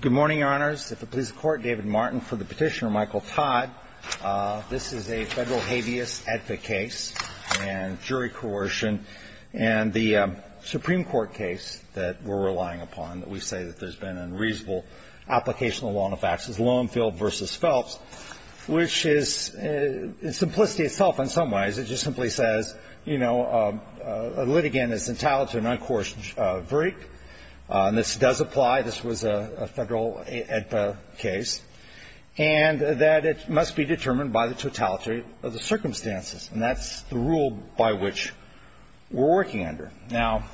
Good morning, Your Honors. If it pleases the Court, David Martin for the petitioner, Michael Todd. This is a federal habeas ethic case and jury coercion. And the Supreme Court case that we're relying upon, that we say that there's been unreasonable application of the law on the facts, is Lonefield v. Phelps, which is in simplicity itself, in some ways, it just simply says, you know, a litigant is entitled to an uncoerced verdict. And this does apply. This was a federal AEDPA case. And that it must be determined by the totality of the circumstances. And that's the rule by which we're working under. Now,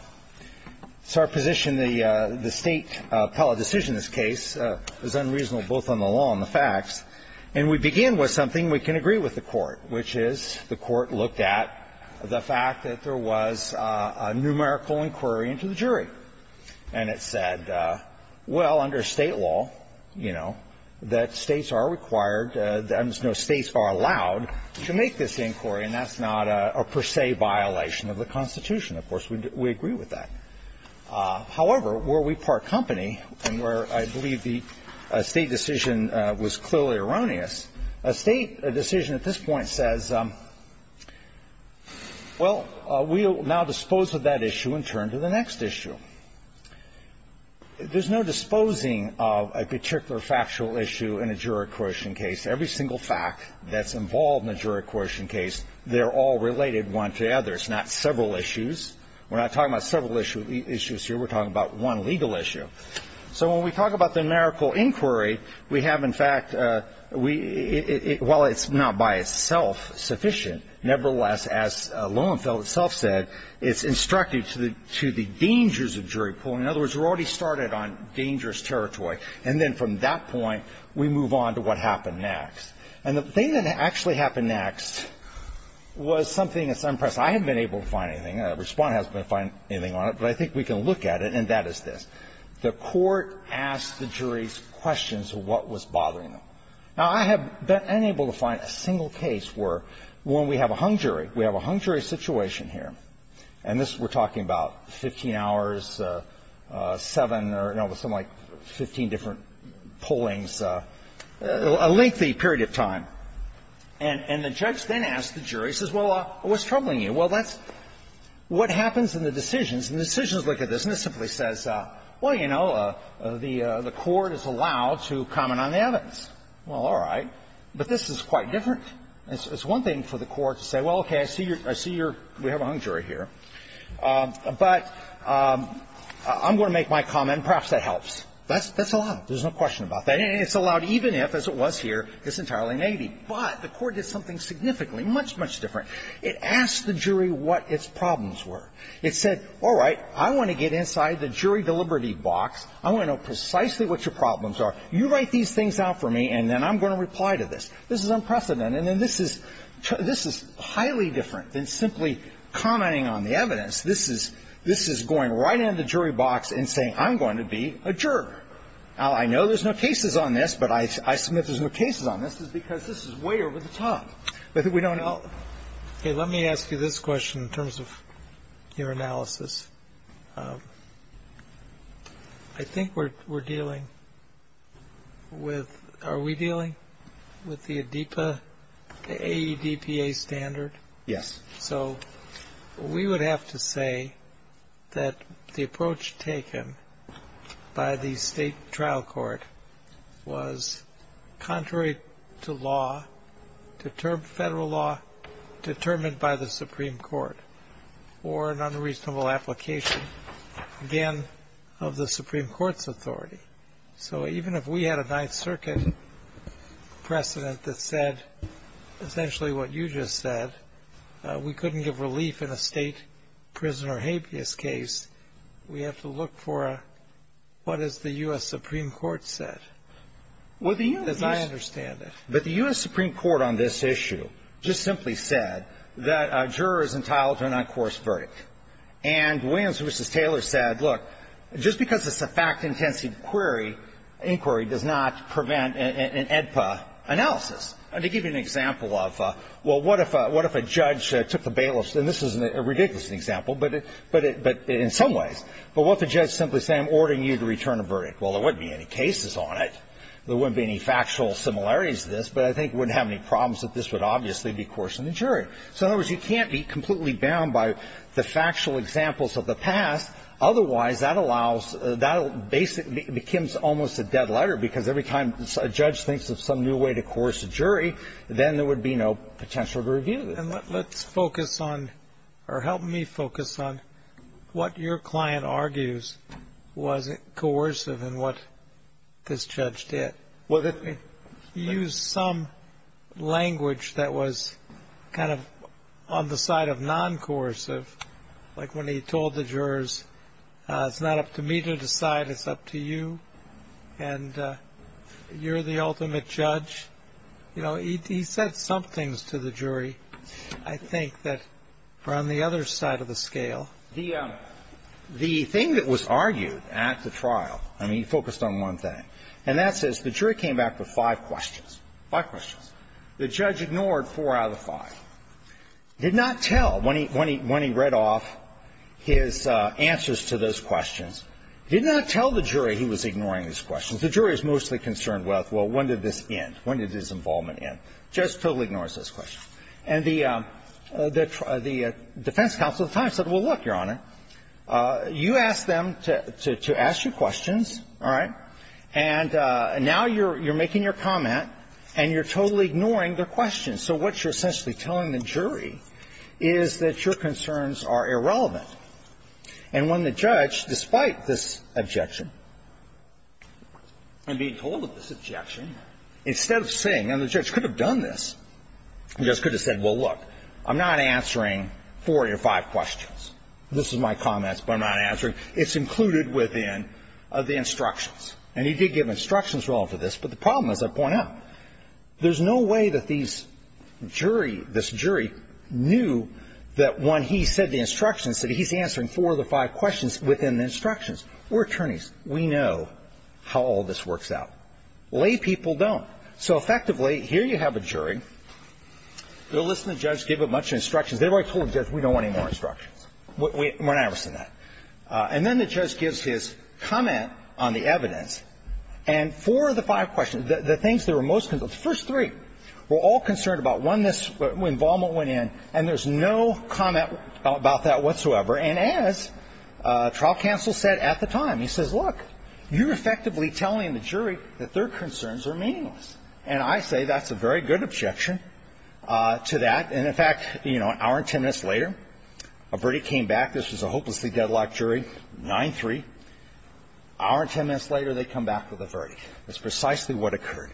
it's our position the State appellate decision in this case is unreasonable, both on the law and the facts. And we begin with something we can agree with the Court, which is the Court looked at the fact that there was a numerical inquiry into the jury. And it said, well, under State law, you know, that States are required to – no, States are allowed to make this inquiry, and that's not a per se violation of the Constitution. Of course, we agree with that. However, were we part company, and where I believe the State decision was clearly erroneous, a State decision at this point says, well, we will now dispose of that issue and turn to the next issue. There's no disposing of a particular factual issue in a jury coercion case. Every single fact that's involved in a jury coercion case, they're all related one to the other. It's not several issues. We're not talking about several issues here. We're talking about one legal issue. So when we talk about the numerical inquiry, we have, in fact, we – well, it's not by itself sufficient. Nevertheless, as Lowenfeld itself said, it's instructive to the dangers of jury pooling. In other words, we're already started on dangerous territory. And then from that point, we move on to what happened next. And the thing that actually happened next was something that's unprecedented. I haven't been able to find anything. Respondent hasn't been able to find anything on it, but I think we can look at it, and that is this. The Court asked the juries questions of what was bothering them. Now, I have been unable to find a single case where, when we have a hung jury, we have a hung jury situation here, and this we're talking about 15 hours, seven And the judge then asks the jury, says, well, what's troubling you? Well, that's what happens in the decisions, and the decisions look at this, and it simply says, well, you know, the Court is allowed to comment on the evidence. Well, all right. But this is quite different. It's one thing for the Court to say, well, okay, I see your – we have a hung jury here, but I'm going to make my comment, and perhaps that helps. That's allowed. There's no question about that. And it's allowed even if, as it was here, it's entirely negative. But the Court did something significantly much, much different. It asked the jury what its problems were. It said, all right, I want to get inside the jury deliberative box. I want to know precisely what your problems are. You write these things out for me, and then I'm going to reply to this. This is unprecedented, and this is – this is highly different than simply commenting on the evidence. This is – this is going right into the jury box and saying, I'm going to be a juror. Now, I know there's no cases on this, but I assume that there's no cases on this because this is way over the top. We don't know. Okay. Let me ask you this question in terms of your analysis. I think we're dealing with – are we dealing with the ADEPA, the AEDPA standard? Yes. So we would have to say that the approach taken by the state trial court was contrary to law, to federal law, determined by the Supreme Court, or an unreasonable application, again, So even if we had a Ninth Circuit precedent that said essentially what you just said, we couldn't give relief in a state prison or habeas case. We have to look for what is the U.S. Supreme Court said. Well, the U.S. As I understand it. But the U.S. Supreme Court on this issue just simply said that a juror is entitled to an uncoursed verdict. And Williams v. Taylor said, look, just because it's a fact-intensive inquiry, inquiry does not prevent an AEDPA analysis. And to give you an example of, well, what if a judge took the bailiff's – and this is a ridiculous example, but in some ways. But what if the judge simply said, I'm ordering you to return a verdict. Well, there wouldn't be any cases on it. There wouldn't be any factual similarities to this, but I think it wouldn't have any problems that this would obviously be coerced in the jury. So in other words, you can't be completely bound by the factual examples of the past. Otherwise, that allows – that basically becomes almost a dead letter, because every time a judge thinks of some new way to coerce a jury, then there would be no potential to review this. And let's focus on – or help me focus on what your client argues was coercive in what this judge did. He used some language that was kind of on the side of non-coercive, like when he told the jurors, it's not up to me to decide. It's up to you, and you're the ultimate judge. You know, he said some things to the jury, I think, that were on the other side of the scale. The thing that was argued at the trial – I mean, he focused on one thing. And that's this. The jury came back with five questions. Five questions. The judge ignored four out of the five. Did not tell when he read off his answers to those questions. Did not tell the jury he was ignoring his questions. The jury is mostly concerned with, well, when did this end? When did his involvement end? Judge totally ignores those questions. And the defense counsel at the time said, well, look, Your Honor, you asked them to ask you questions, all right? And now you're making your comment, and you're totally ignoring their questions. So what you're essentially telling the jury is that your concerns are irrelevant. And when the judge, despite this objection, and being told of this objection, instead of saying – and the judge could have done this. The judge could have said, well, look, I'm not answering four of your five questions. This is my comments, but I'm not answering. It's included within the instructions. And he did give instructions relevant to this. But the problem is, I point out, there's no way that these jury – this jury knew that when he said the instructions, that he's answering four of the five questions within the instructions. We're attorneys. We know how all this works out. Lay people don't. So effectively, here you have a jury. They'll listen to the judge, give a bunch of instructions. They've already told the judge, we don't want any more instructions. We're not interested in that. And then the judge gives his comment on the evidence. And four of the five questions, the things that were most – the first three were all concerned about when this involvement went in, and there's no comment about that whatsoever. And as trial counsel said at the time, he says, look, you're effectively telling the jury that their concerns are meaningless. And I say that's a very good objection to that. And in fact, you know, an hour and ten minutes later, a verdict came back. This was a hopelessly deadlocked jury, 9-3. Hour and ten minutes later, they come back with a verdict. That's precisely what occurred.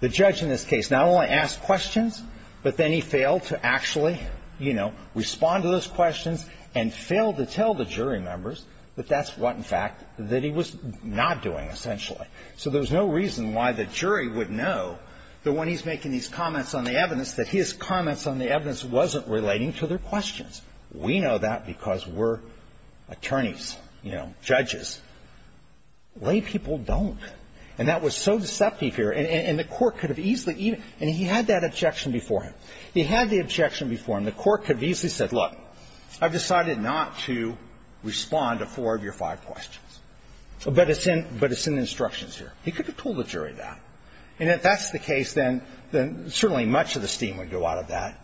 The judge in this case not only asked questions, but then he failed to actually, you know, respond to those questions and failed to tell the jury members that that's what, in fact, that he was not doing, essentially. So there's no reason why the jury would know that when he's making these comments on the evidence that his comments on the evidence wasn't relating to their questions. We know that because we're attorneys, you know, judges. Lay people don't. And that was so deceptive here. And the Court could have easily even – and he had that objection before him. He had the objection before him. The Court could have easily said, look, I've decided not to respond to four of your five questions. But it's in – but it's in the instructions here. He could have told the jury that. And if that's the case, then certainly much of the steam would go out of that.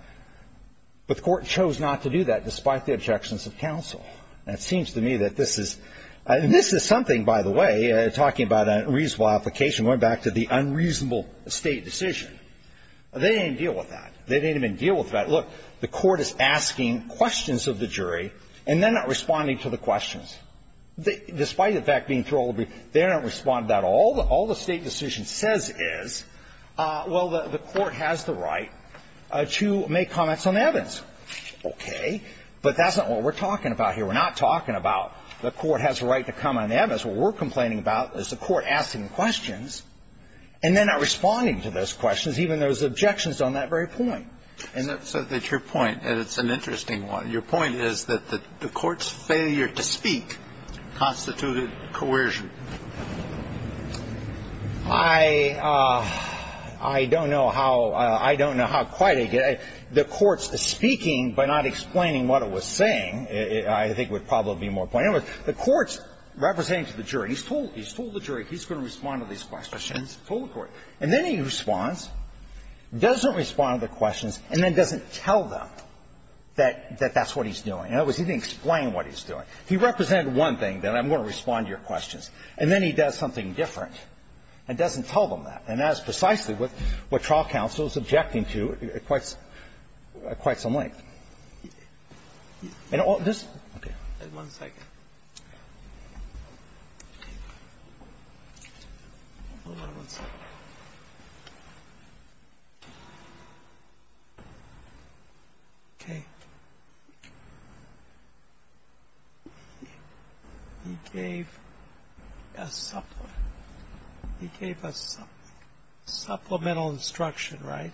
But the Court chose not to do that despite the objections of counsel. And it seems to me that this is – and this is something, by the way, talking about a reasonable application, going back to the unreasonable State decision. They didn't deal with that. They didn't even deal with that. Look, the Court is asking questions of the jury, and they're not responding to the questions. Despite the fact being throwable, they don't respond to that. All the State decision says is, well, the Court has the right to make comments on the evidence. Okay. But that's not what we're talking about here. We're not talking about the Court has the right to comment on the evidence. What we're complaining about is the Court asking questions, and they're not responding to those questions, even though there's objections on that very point. And that's – So that's your point, and it's an interesting one. Your point is that the Court's failure to speak constituted coercion. I don't know how – I don't know how quite I get it. The Court's speaking by not explaining what it was saying, I think would probably be more pointed. In other words, the Court's representing to the jury. He's told the jury he's going to respond to these questions. He's told the jury. And then he responds, doesn't respond to the questions, and then doesn't tell them that that's what he's doing. In other words, he didn't explain what he's doing. He represented one thing, that I'm going to respond to your questions. And then he does something different and doesn't tell them that. And that is precisely what trial counsel is objecting to at quite some length. And all this – okay. One second. Hold on one second. Okay. He gave a supplement. He gave a supplemental instruction, right?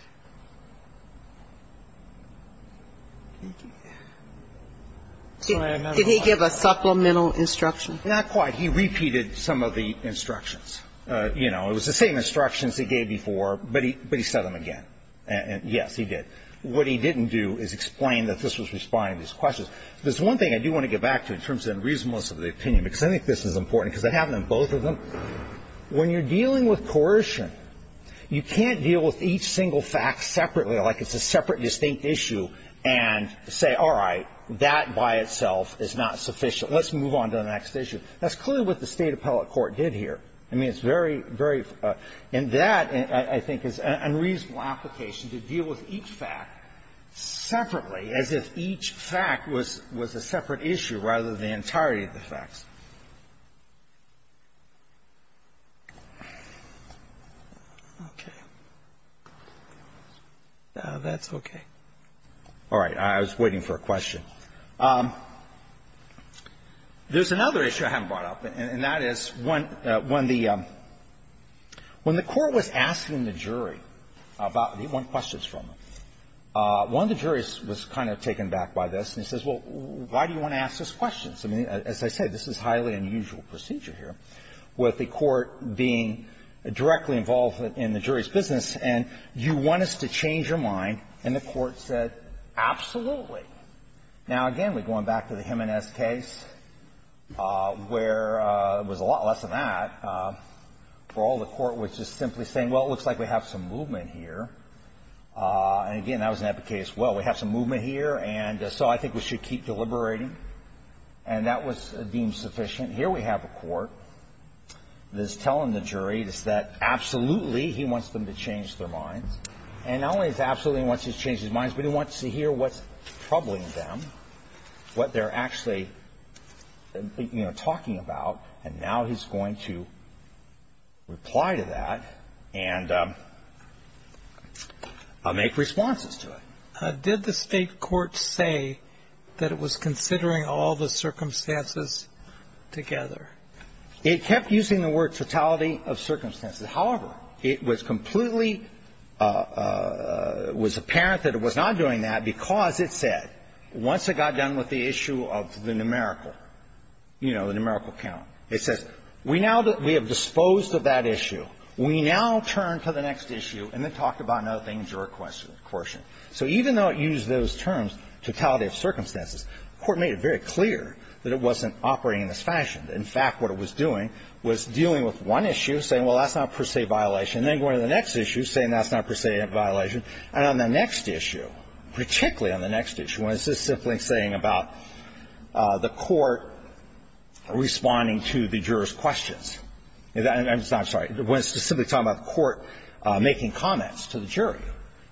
Sorry, I'm not sure. Did he give a supplemental instruction? Not quite. He repeated some of the instructions. You know, it was the same instructions he gave before, but he said them again. And, yes, he did. What he didn't do is explain that this was responding to these questions. There's one thing I do want to get back to in terms of the reasonableness of the opinion, because I think this is important because it happened in both of them. When you're dealing with coercion, you can't deal with each single fact separately like it's a separate, distinct issue and say, all right, that by itself is not sufficient. Let's move on to the next issue. That's clearly what the State appellate court did here. I mean, it's very, very – and that, I think, is an unreasonable application to deal with each fact separately as if each fact was a separate issue rather than the entirety of the facts. Okay. That's okay. All right. I was waiting for a question. There's another issue I haven't brought up, and that is when the court was asking the jury about – they want questions from them. One of the juries was kind of taken aback by this, and he says, well, why do you want to ask us questions? I mean, as I said, this is highly unusual procedure here with the court being directly involved in the jury's business, and you want us to change your mind, and the court said, absolutely. Now, again, we're going back to the Jimenez case where it was a lot less than that where all the court was just simply saying, well, it looks like we have some movement here. And, again, that was in that case, well, we have some movement here, and so I think we should keep deliberating. And that was deemed sufficient. Here we have a court that is telling the jury that, absolutely, he wants them to change their minds. And not only does he absolutely want them to change their minds, but he wants to hear what's troubling them, what they're actually, you know, talking about. And now he's going to reply to that and make responses to it. Did the State court say that it was considering all the circumstances together? It kept using the word totality of circumstances. However, it was completely – it was apparent that it was not doing that because it said, once it got done with the issue of the numerical, you know, the numerical count, it says, we now – we have disposed of that issue. We now turn to the next issue and then talk about another thing, juror quotient. So even though it used those terms, totality of circumstances, the court made it very clear that it wasn't operating in this fashion. In fact, what it was doing was dealing with one issue, saying, well, that's not per se violation, and then going to the next issue, saying that's not per se violation. And on the next issue, particularly on the next issue, when it's just simply saying about the court responding to the juror's questions – I'm sorry. When it's just simply talking about the court making comments to the jury,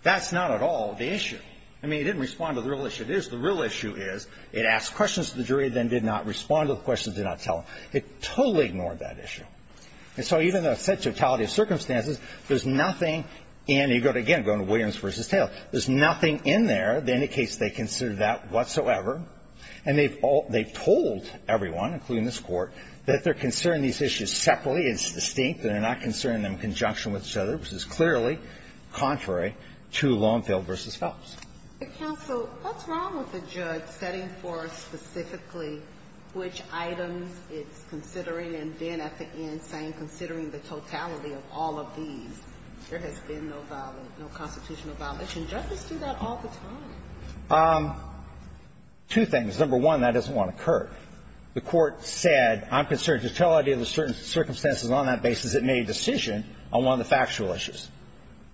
that's not at all the issue. I mean, it didn't respond to the real issue. It is – the real issue is it asked questions to the jury, then did not respond to the questions, did not tell them. It totally ignored that issue. And so even though it said totality of circumstances, there's nothing in – you've gone to Williams v. Taylor. There's nothing in there that indicates they considered that whatsoever. And they've told everyone, including this Court, that they're considering these issues separately, it's distinct, and they're not considering them in conjunction with each other, which is clearly contrary to Longfield v. Phelps. Ginsburg. What's wrong with the judge setting forth specifically which items it's considering and then at the end saying, considering the totality of all of these, there has been no constitutional violation? Judges do that all the time. Two things. Number one, that doesn't want to occur. The Court said, I'm concerned totality of the certain circumstances on that basis. It made a decision on one of the factual issues.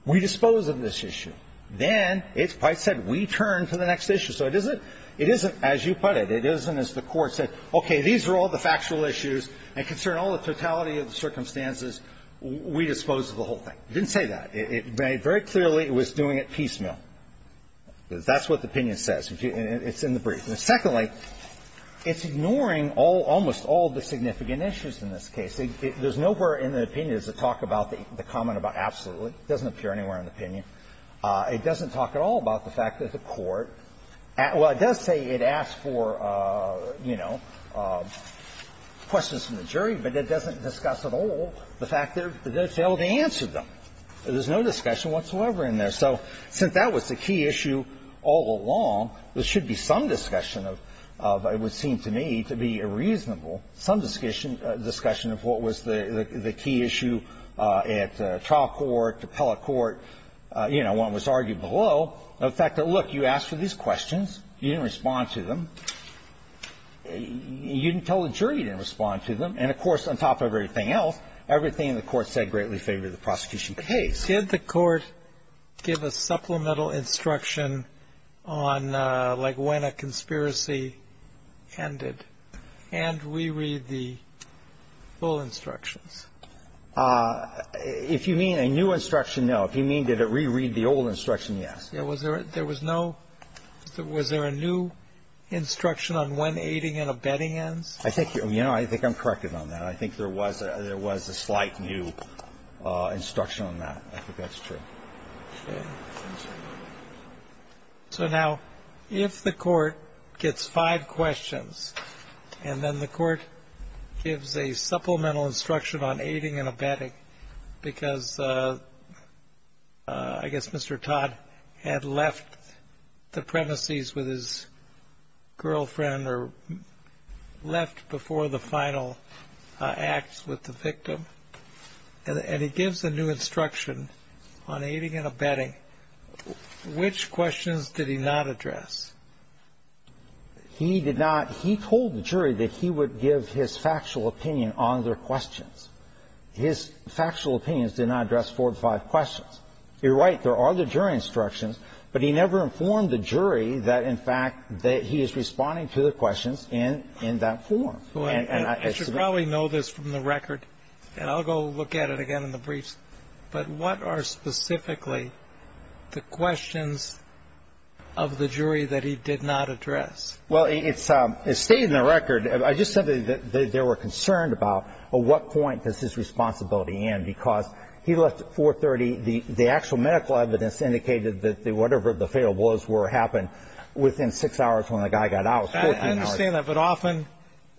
We dispose of this issue. Then it's quite said, we turn to the next issue. So it isn't – it isn't as you put it. It isn't as the Court said, okay, these are all the factual issues, and concern all the totality of the circumstances, we dispose of the whole thing. It didn't say that. It very clearly was doing it piecemeal. That's what the opinion says. It's in the brief. And secondly, it's ignoring all – almost all the significant issues in this case. There's nowhere in the opinion to talk about the comment about absolutely. It doesn't appear anywhere in the opinion. It doesn't talk at all about the fact that the Court – well, it does say it asked for, you know, questions from the jury, but it doesn't discuss at all the fact that they failed to answer them. There's no discussion whatsoever in there. So since that was the key issue all along, there should be some discussion of – it would seem to me to be a reasonable – some discussion of what was the key issue at trial court, appellate court, you know, when it was argued below. The fact that, look, you asked for these questions, you didn't respond to them, you didn't tell the jury you didn't respond to them, and, of course, on top of everything else, everything the Court said greatly favored the prosecution case. Did the Court give a supplemental instruction on, like, when a conspiracy ended? And reread the full instructions? If you mean a new instruction, no. If you mean did it reread the old instruction, yes. Was there a new instruction on when aiding and abetting ends? I think – you know, I think I'm correct on that. I think there was a slight new instruction on that. I think that's true. Okay. Thank you. So now, if the Court gets five questions and then the Court gives a supplemental instruction on aiding and abetting because, I guess, Mr. Todd had left the premises with his girlfriend or left before the final act with the victim, and he gives a new instruction on aiding and abetting, which questions did he not address? He did not – he told the jury that he would give his factual opinion on their questions. His factual opinions did not address four or five questions. You're right. There are the jury instructions. But he never informed the jury that, in fact, that he is responding to the questions in that form. I should probably know this from the record, and I'll go look at it again in the briefs, but what are specifically the questions of the jury that he did not address? Well, it's stated in the record. I just said that they were concerned about, well, what point does his responsibility end because he left at 4.30. The actual medical evidence indicated that whatever the fatal blows were happened within six hours when the guy got out, 14 hours. I understand that. But often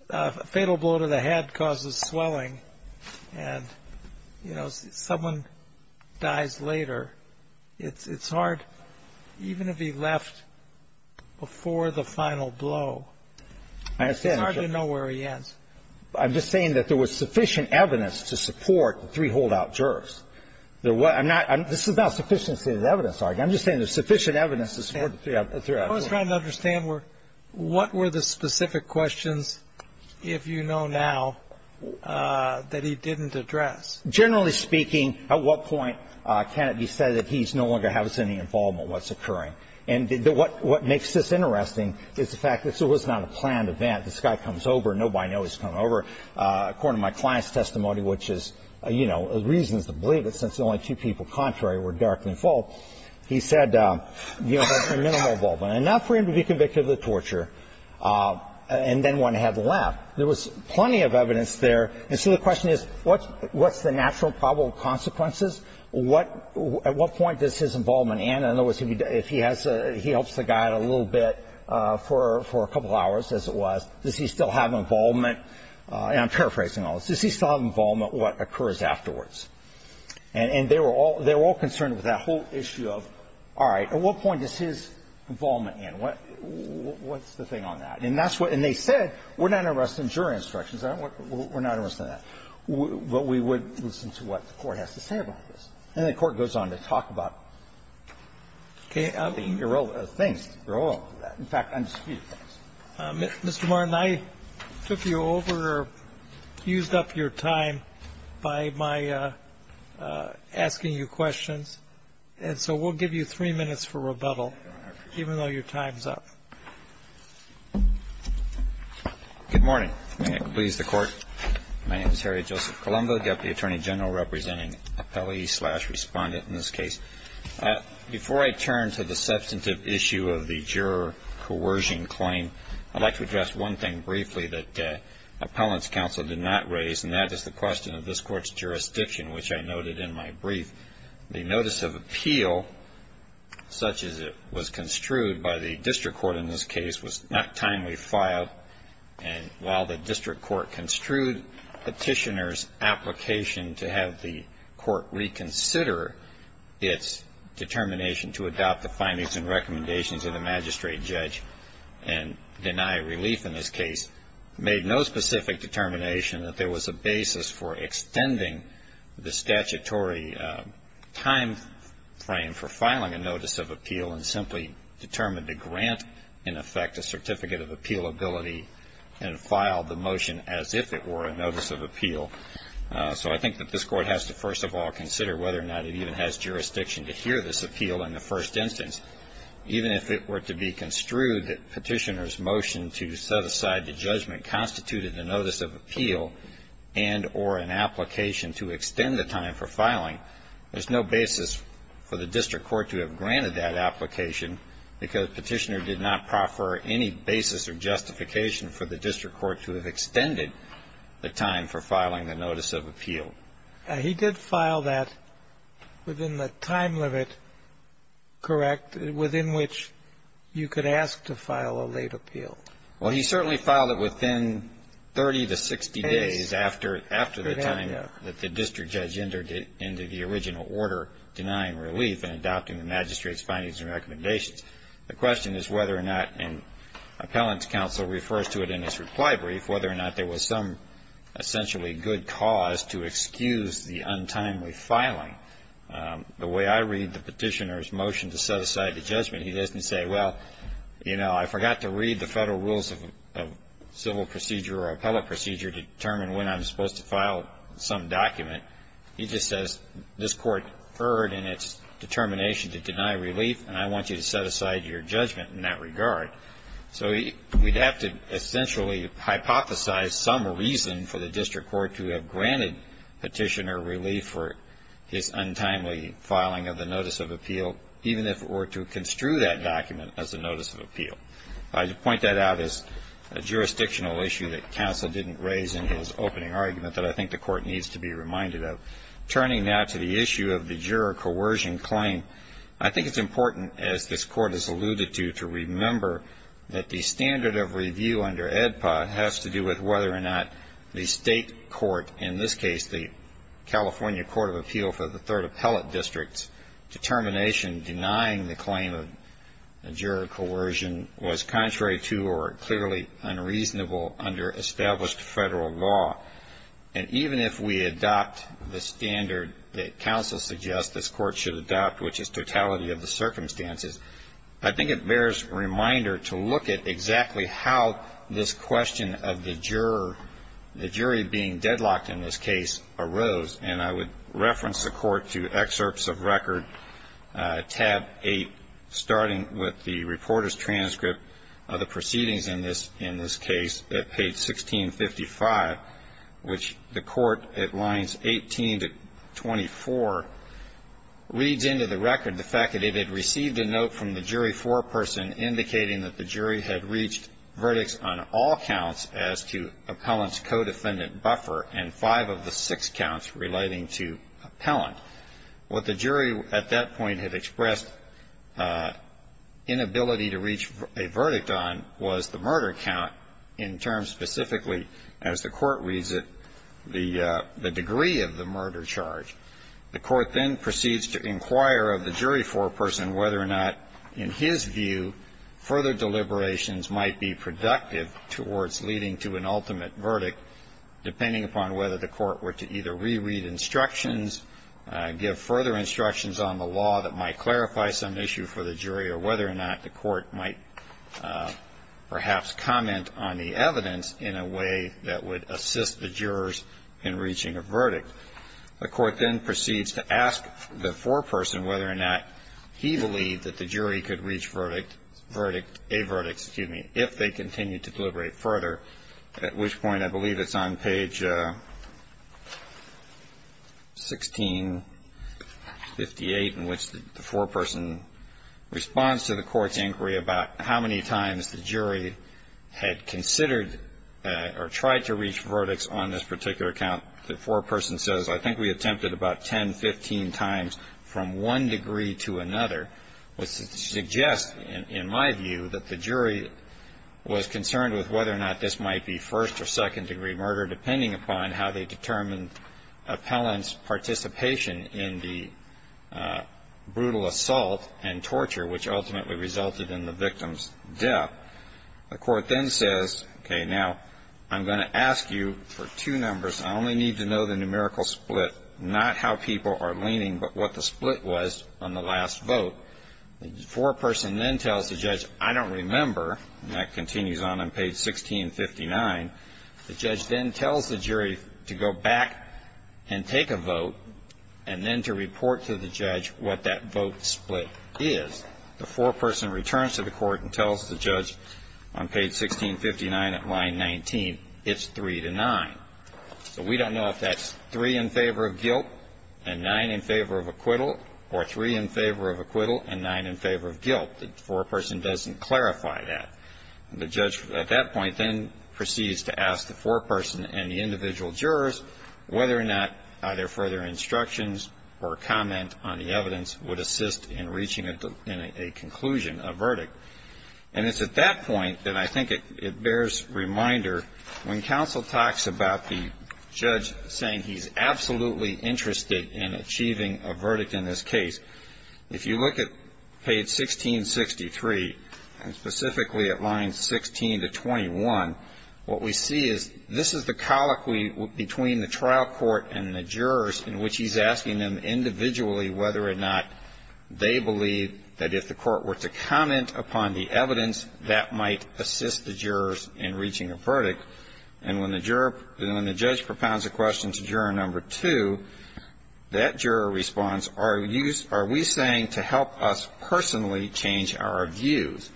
a fatal blow to the head causes swelling, and, you know, someone dies later. It's hard, even if he left before the final blow, it's hard to know where he ends. I'm just saying that there was sufficient evidence to support the three holdout jurors. I'm not – this is not a sufficiency of evidence argument. I'm just saying there's sufficient evidence to support the three holdout jurors. I was trying to understand what were the specific questions, if you know now, that he didn't address. Generally speaking, at what point can it be said that he no longer has any involvement in what's occurring. And what makes this interesting is the fact that this was not a planned event. This guy comes over. Nobody knows he's coming over. According to my client's testimony, which is, you know, reasons to believe it since the only two people contrary were dark and full, he said, you know, that's a minimal involvement, enough for him to be convicted of the torture, and then went ahead and left. There was plenty of evidence there. And so the question is, what's the natural probable consequences? What – at what point does his involvement end? In other words, if he has a – he helps the guy out a little bit for a couple hours, as it was, does he still have involvement? And I'm paraphrasing all this. Does he still have involvement what occurs afterwards? And they were all – they were all concerned with that whole issue of, all right, at what point does his involvement end? What's the thing on that? And that's what – and they said, we're not arresting jury instructions. We're not arresting that. But we would listen to what the Court has to say about this. And the Court goes on to talk about the role of things, the role of that. In fact, I'm just going to keep going. Mr. Martin, I took you over or fused up your time by my asking you questions, and so we'll give you three minutes for rebuttal, even though your time's up. Good morning. May it please the Court. My name is Harry Joseph Colombo, Deputy Attorney General representing appellee slash respondent in this case. Before I turn to the substantive issue of the juror coercion claim, I'd like to address one thing briefly that appellant's counsel did not raise, and that is the question of this Court's jurisdiction, which I noted in my brief. The notice of appeal, such as it was construed by the district court in this case, was not timely filed. And while the district court construed petitioner's application to have the court reconsider its determination to adopt the findings and recommendations of the magistrate judge and deny relief in this case, made no specific determination that there was a basis for extending the statutory timeframe for filing a notice of appeal and simply determined to grant, in effect, a certificate of appealability and file the motion as if it were a notice of appeal. So I think that this Court has to, first of all, consider whether or not it even has jurisdiction to hear this appeal in the first instance. Even if it were to be construed that petitioner's motion to set aside the judgment constituted a notice of appeal and or an application to extend the time for filing, there's no basis for the district court to have granted that application because petitioner did not proffer any basis or justification for the district court to have extended the time for filing the notice of appeal. He did file that within the time limit, correct, within which you could ask to file a late appeal. Well, he certainly filed it within 30 to 60 days after the time that the district judge entered into the original order denying relief and adopting the magistrate's findings and recommendations. The question is whether or not an appellant's counsel refers to it in his reply brief, whether or not there was some essentially good cause to excuse the untimely filing. The way I read the petitioner's motion to set aside the judgment, he doesn't say, well, you know, I forgot to read the federal rules of civil procedure or appellate procedure to determine when I'm supposed to file some document. He just says this court erred in its determination to deny relief and I want you to set aside your judgment in that regard. So we'd have to essentially hypothesize some reason for the district court to have granted petitioner relief for his untimely filing of the notice of appeal, even if it were to construe that document as a notice of appeal. I point that out as a jurisdictional issue that counsel didn't raise in his opening argument that I think the Court needs to be reminded of. Turning now to the issue of the juror coercion claim, I think it's important, as this Court has alluded to, to remember that the standard of review under AEDPA has to do with whether or not the state court, in this case the California Court of Appeal for the Third Appellate District's determination in denying the claim of juror coercion was contrary to or clearly unreasonable under established federal law. And even if we adopt the standard that counsel suggests this Court should adopt, which is totality of the circumstances, I think it bears reminder to look at exactly how this question of the juror, the jury being deadlocked in this case, arose. And I would reference the Court to excerpts of record tab 8, starting with the reporter's transcript of the proceedings in this case at page 1655, which the Court, at lines 18 to 24, reads into the record the fact that it had received a note from the jury foreperson indicating that the jury had reached verdicts on all counts as to appellant's codefendant buffer and five of the six counts relating to appellant. What the jury at that point had expressed inability to reach a verdict on was the murder count, in terms specifically, as the Court reads it, the degree of the murder charge. The Court then proceeds to inquire of the jury foreperson whether or not, in his view, further deliberations might be productive towards leading to an ultimate verdict depending upon whether the Court were to either reread instructions, give further instructions on the law that might clarify some issue for the jury, or whether or not the Court might perhaps comment on the evidence in a way that would assist the jurors in reaching a verdict. The Court then proceeds to ask the foreperson whether or not he believed that the jury could reach a verdict if they continued to deliberate further, at which point I believe it's on page 1658, in which the foreperson responds to the Court's inquiry about how many times the jury had considered or tried to reach verdicts on this particular count. The foreperson says, I think we attempted about 10, 15 times from one degree to another. Which suggests, in my view, that the jury was concerned with whether or not this might be first- or second-degree murder depending upon how they determined appellant's participation in the brutal assault and torture, which ultimately resulted in the victim's death. The Court then says, okay, now, I'm going to ask you for two numbers. I only need to know the numerical split, not how people are leaning, but what the split was on the last vote. The foreperson then tells the judge, I don't remember, and that continues on on page 1659. The judge then tells the jury to go back and take a vote, and then to report to the judge what that vote split is. The foreperson returns to the Court and tells the judge on page 1659 at line 19, it's 3 to 9. So we don't know if that's 3 in favor of guilt and 9 in favor of acquittal, or 3 in favor of acquittal and 9 in favor of guilt. The foreperson doesn't clarify that. The judge at that point then proceeds to ask the foreperson and the individual jurors whether or not either further instructions or comment on the evidence would assist in reaching a conclusion, a verdict. And it's at that point that I think it bears reminder when counsel talks about the judge saying he's absolutely interested in achieving a verdict in this case, if you look at page 1663, and specifically at lines 16 to 21, what we see is this is the colloquy between the trial court and the jurors in which he's asking them individually whether or not they believe that if the court were to comment upon the evidence, that might assist the jurors in reaching a verdict. And when the judge propounds a question to juror number two, that juror responds, are we saying to help us personally change our views?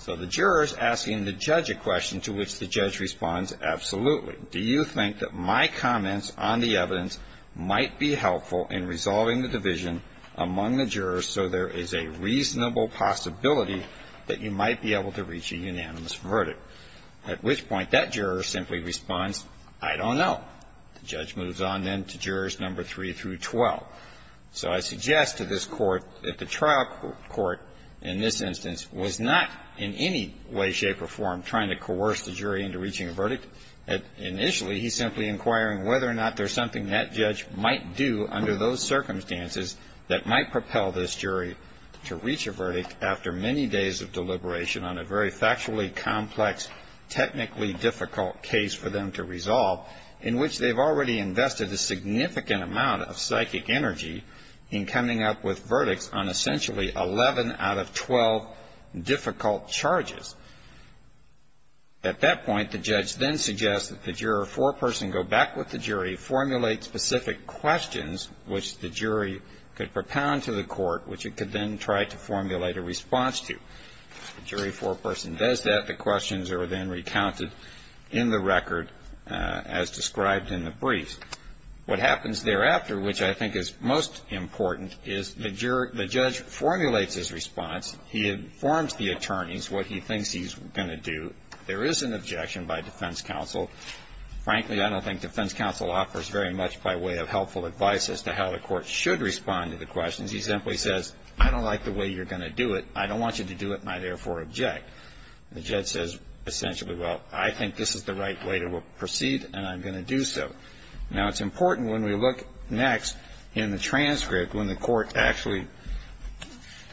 So the juror is asking the judge a question to which the judge responds, absolutely. Do you think that my comments on the evidence might be helpful in resolving the division among the jurors so there is a reasonable possibility that you might be able to reach a unanimous verdict? At which point that juror simply responds, I don't know. The judge moves on then to jurors number three through 12. So I suggest to this court that the trial court in this instance was not in any way, shape or form trying to coerce the jury into reaching a verdict. Initially he's simply inquiring whether or not there's something that judge might do under those circumstances that might propel this jury to reach a verdict after many days of deliberation on a very factually complex, technically difficult case for them to resolve, in which they've already invested a significant amount of psychic energy in coming up with verdicts on essentially 11 out of 12 difficult charges. At that point, the judge then suggests that the juror foreperson go back with the jury, formulate specific questions which the jury could propound to the court, which it could then try to formulate a response to. The jury foreperson does that. The jury foreperson has described in the brief what happens thereafter, which I think is most important, is the judge formulates his response, he informs the attorneys what he thinks he's going to do. There is an objection by defense counsel. Frankly, I don't think defense counsel offers very much by way of helpful advice as to how the court should respond to the questions. He simply says, I don't like the way you're going to do it, I don't want you to do it and I therefore object. The judge says essentially, well, I think this is the right way to proceed and I'm going to do so. Now, it's important when we look next in the transcript when the court actually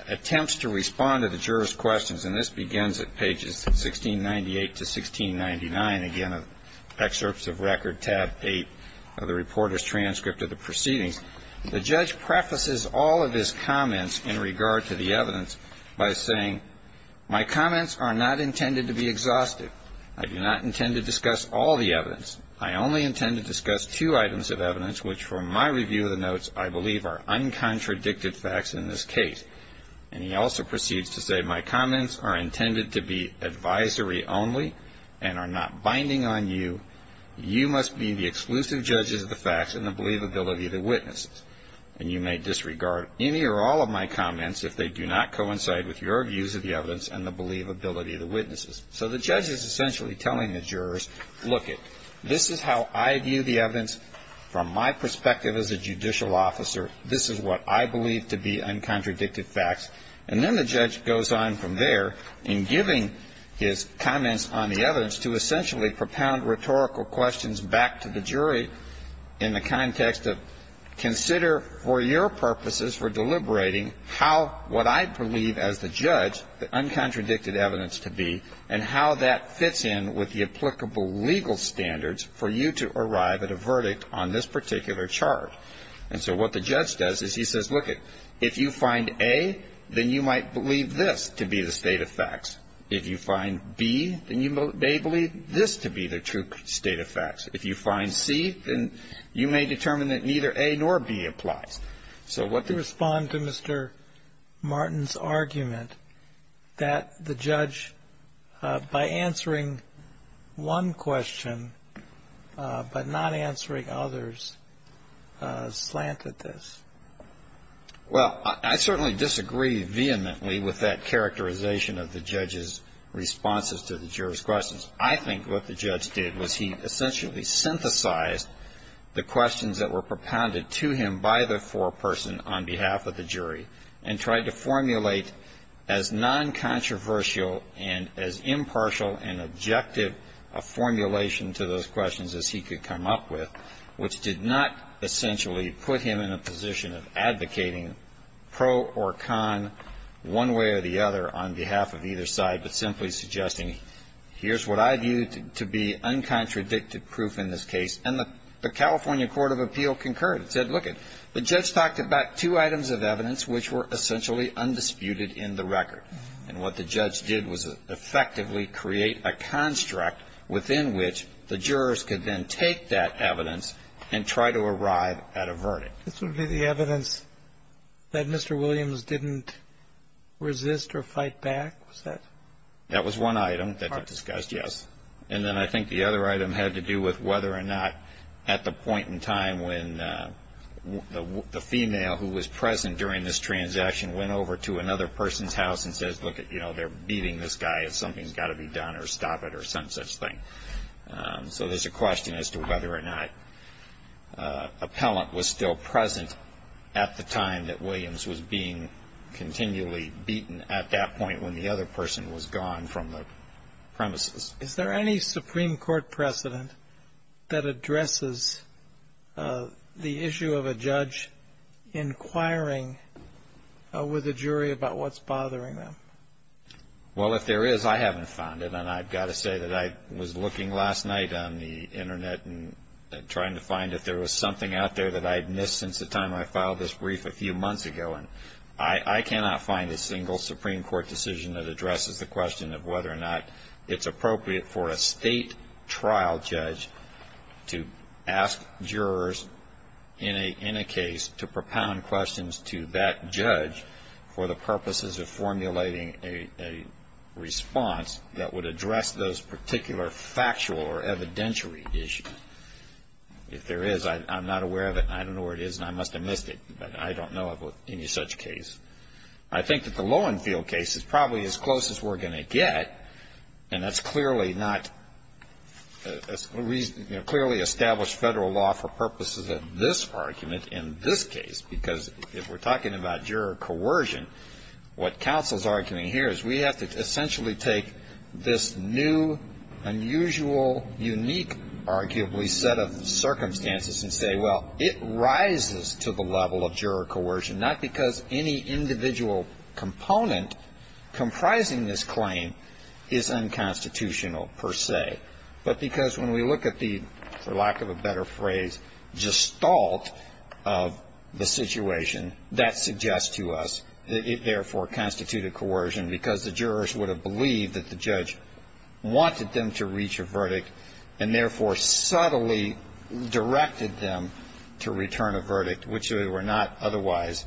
attempts to respond to the jurors' questions and this begins at pages 1698 to 1699, again, excerpts of record tab eight of the reporter's transcript of the proceedings. The judge prefaces all of his comments in regard to the evidence by saying, my comments are not intended to be exhaustive. I do not intend to discuss all the evidence. I only intend to discuss two items of evidence, which for my review of the notes, I believe are uncontradicted facts in this case. And he also proceeds to say, my comments are intended to be advisory only and are not binding on you. You must be the exclusive judges of the facts and the believability of the witnesses. And you may disregard any or all of my comments if they do not coincide with your views of the evidence and the believability of the witnesses. So the judge is essentially telling the jurors, look, this is how I view the evidence from my perspective as a judicial officer. This is what I believe to be uncontradicted facts. And then the judge goes on from there in giving his comments on the evidence to essentially propound rhetorical questions back to the jury in the context of consider for your purposes for deliberating how what I believe as the judge, the uncontradicted evidence to be, and how that fits in with the applicable legal standards for you to arrive at a verdict on this particular chart. And so what the judge does is he says, look, if you find A, then you might believe this to be the state of facts. If you find B, then you may believe this to be the true state of facts. If you find C, then you may determine that neither A nor B applies. So what the judge says is the state of facts. So if you were to respond to Mr. Martin's argument that the judge by answering one question but not answering others slanted this? Well, I certainly disagree vehemently with that characterization of the judge's responses to the juror's questions. I think what the judge did was he essentially synthesized the questions that were propounded to him by the foreperson on behalf of the jury, and tried to formulate as noncontroversial and as impartial and objective a formulation to those questions as he could come up with, which did not essentially put him in a position of advocating pro or con one way or the other on behalf of either side, but simply suggesting, here's what I view to be uncontradicted proof in this case, and the California Court of Appeal concurred. It said, lookit, the judge talked about two items of evidence which were essentially undisputed in the record. And what the judge did was effectively create a construct within which the jurors could then take that evidence and try to arrive at a verdict. This would be the evidence that Mr. Williams didn't resist or fight back? That was one item that was discussed, yes. And then I think the other item had to do with whether or not at the point in time when the female who was present during this transaction went over to another person's house and says, lookit, they're beating this guy, something's got to be done or stop it or some such thing. So there's a question as to whether or not appellant was still present at the time that Williams was being continually beaten at that point when the other person was present. And whether or not the other person was gone from the premises. Is there any Supreme Court precedent that addresses the issue of a judge inquiring with a jury about what's bothering them? Well, if there is, I haven't found it. And I've got to say that I was looking last night on the Internet and trying to find if there was something out there that I had missed since the time I filed this brief a few months ago. And I cannot find a single Supreme Court decision that addresses the question of whether or not it's appropriate for a state trial judge to ask jurors in a case to propound questions to that judge for the purposes of formulating a response that would address those particular factual or evidentiary issues. If there is, I'm not aware of it, and I don't know where it is, and I must have missed it, but I don't know of any such case. I think that the Lowenfield case is probably as close as we're going to get, and that's clearly not a reason, clearly established federal law for purposes of this argument in this case. Because if we're talking about juror coercion, what counsel's arguing here is we have to essentially take this new, unusual, unique argument and put it in court. And we set up circumstances and say, well, it rises to the level of juror coercion, not because any individual component comprising this claim is unconstitutional per se, but because when we look at the, for lack of a better phrase, gestalt of the situation, that suggests to us that it therefore constituted coercion, because the jurors would have believed that the judge wanted them to reach a verdict, and therefore sought to get them to reach a verdict. And so, the court totally directed them to return a verdict, which they were not otherwise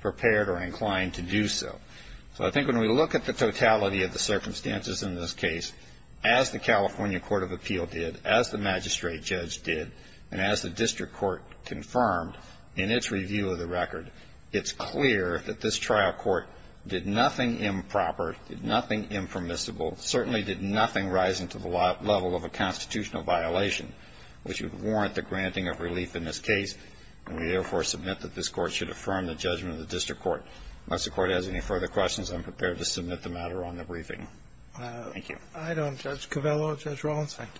prepared or inclined to do so. So I think when we look at the totality of the circumstances in this case, as the California Court of Appeal did, as the magistrate judge did, and as the district court confirmed in its review of the record, it's clear that this trial court did nothing improper, did nothing impermissible, certainly did nothing rising to the level of a constitutional violation. Which would warrant the granting of relief in this case, and we therefore submit that this court should affirm the judgment of the district court. Unless the court has any further questions, I'm prepared to submit the matter on the briefing. Thank you. I don't, Judge Covello, Judge Rollins, thank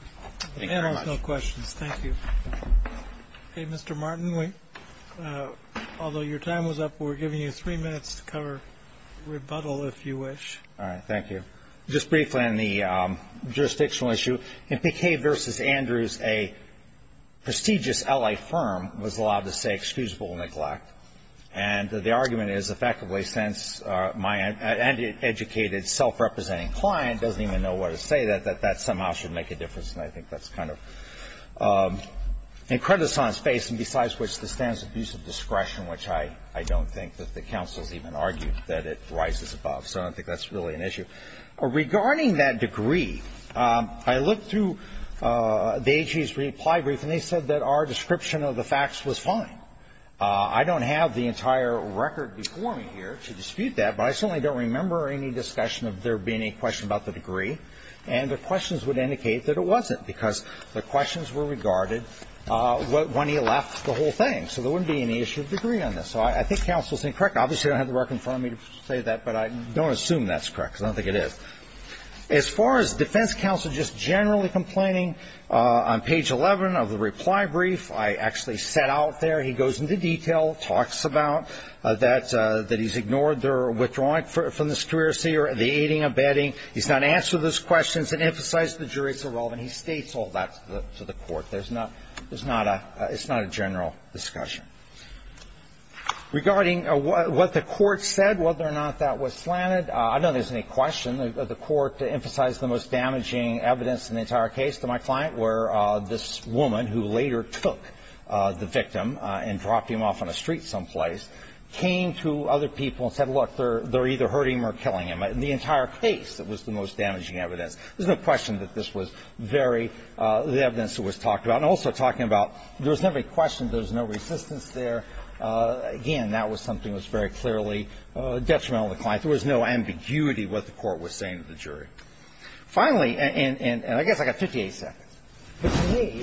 you. The matter has no questions, thank you. Hey, Mr. Martin, although your time was up, we're giving you three minutes to cover rebuttal, if you wish. All right, thank you. Just briefly on the jurisdictional issue, in Piquet v. Andrews, a prestigious L.A. firm was allowed to say excusable neglect. And the argument is, effectively, since my educated, self-representing client doesn't even know what to say, that that somehow should make a difference. And I think that's kind of incredulous on its face. And besides which, the stance of use of discretion, which I don't think that the counsel's even argued that it rises above. So I don't think that's really an issue. Regarding that degree, I looked through the AG's reply brief, and they said that our description of the facts was fine. I don't have the entire record before me here to dispute that, but I certainly don't remember any discussion of there being a question about the degree. And the questions would indicate that it wasn't, because the questions were regarded when he left the whole thing. So there wouldn't be any issue of degree on this. So I think counsel's incorrect. Obviously, I don't have the record in front of me to say that, but I don't assume that's correct, because I don't think it is. As far as defense counsel just generally complaining, on page 11 of the reply brief, I actually set out there, he goes into detail, talks about that he's ignored their withdrawing from the secrecy or the aiding and abetting. He's not answered those questions and emphasized the jury's irrelevant. He states all that to the Court. There's not a – it's not a general discussion. Regarding what the Court said, whether or not that was slanted, I don't know if there's any question. The Court emphasized the most damaging evidence in the entire case to my client, where this woman, who later took the victim and dropped him off on a street someplace, came to other people and said, look, they're either hurting him or killing him. In the entire case, it was the most damaging evidence. There's no question that this was very – the evidence that was talked about. I'm also talking about there was never a question. There was no resistance there. Again, that was something that was very clearly detrimental to the client. There was no ambiguity what the Court was saying to the jury. Finally – and I guess I got 58 seconds. But to me,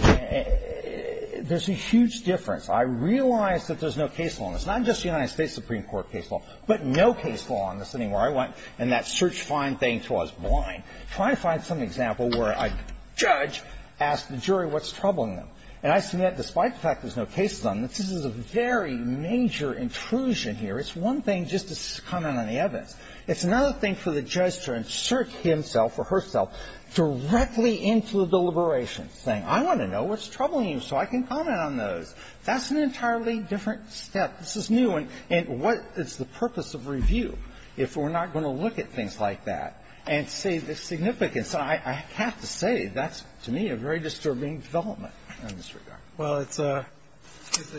there's a huge difference. I realize that there's no case law in this, not just the United States Supreme Court case law, but no case law in the sitting where I went and that search-find thing until I was blind. Try to find some example where a judge asked the jury what's troubling them. And I submit, despite the fact there's no cases on this, this is a very major intrusion here. It's one thing just to comment on the evidence. It's another thing for the judge to insert himself or herself directly into the deliberations, saying, I want to know what's troubling you so I can comment on those. That's an entirely different step. This is new. And what is the purpose of review if we're not going to look at things like that and see the significance? I have to say that's, to me, a very disturbing development in this regard. Well, it's a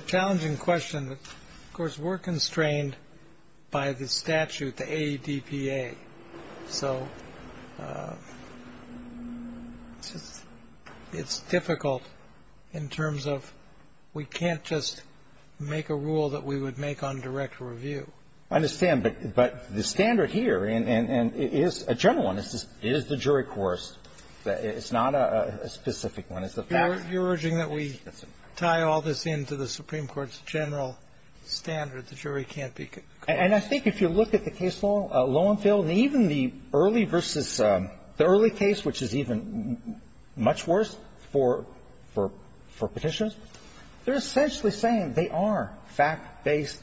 challenging question. Of course, we're constrained by the statute, the ADPA. So it's difficult in terms of we can't just make a rule that we would make on direct review. I understand. But the standard here, and it is a general one, is the jury coerced. It's not a specific one. It's a fact. You're urging that we tie all this into the Supreme Court's general standard, the jury can't be coerced. And I think if you look at the case Loewenfeld, even the early versus the early case, which is even much worse for Petitioner, they're essentially saying they are fact-based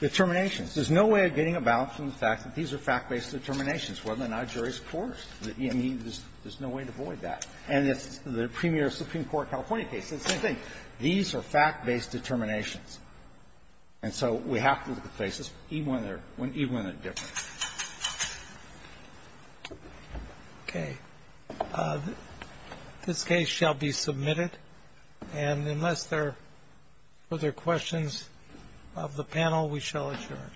determinations. There's no way of getting about from the fact that these are fact-based determinations whether or not a jury is coerced. I mean, there's no way to avoid that. And it's the premier Supreme Court California case. It's the same thing. These are fact-based determinations. And so we have to look at the cases even when they're different. Okay. This case shall be submitted. And unless there are further questions of the panel, we shall adjourn.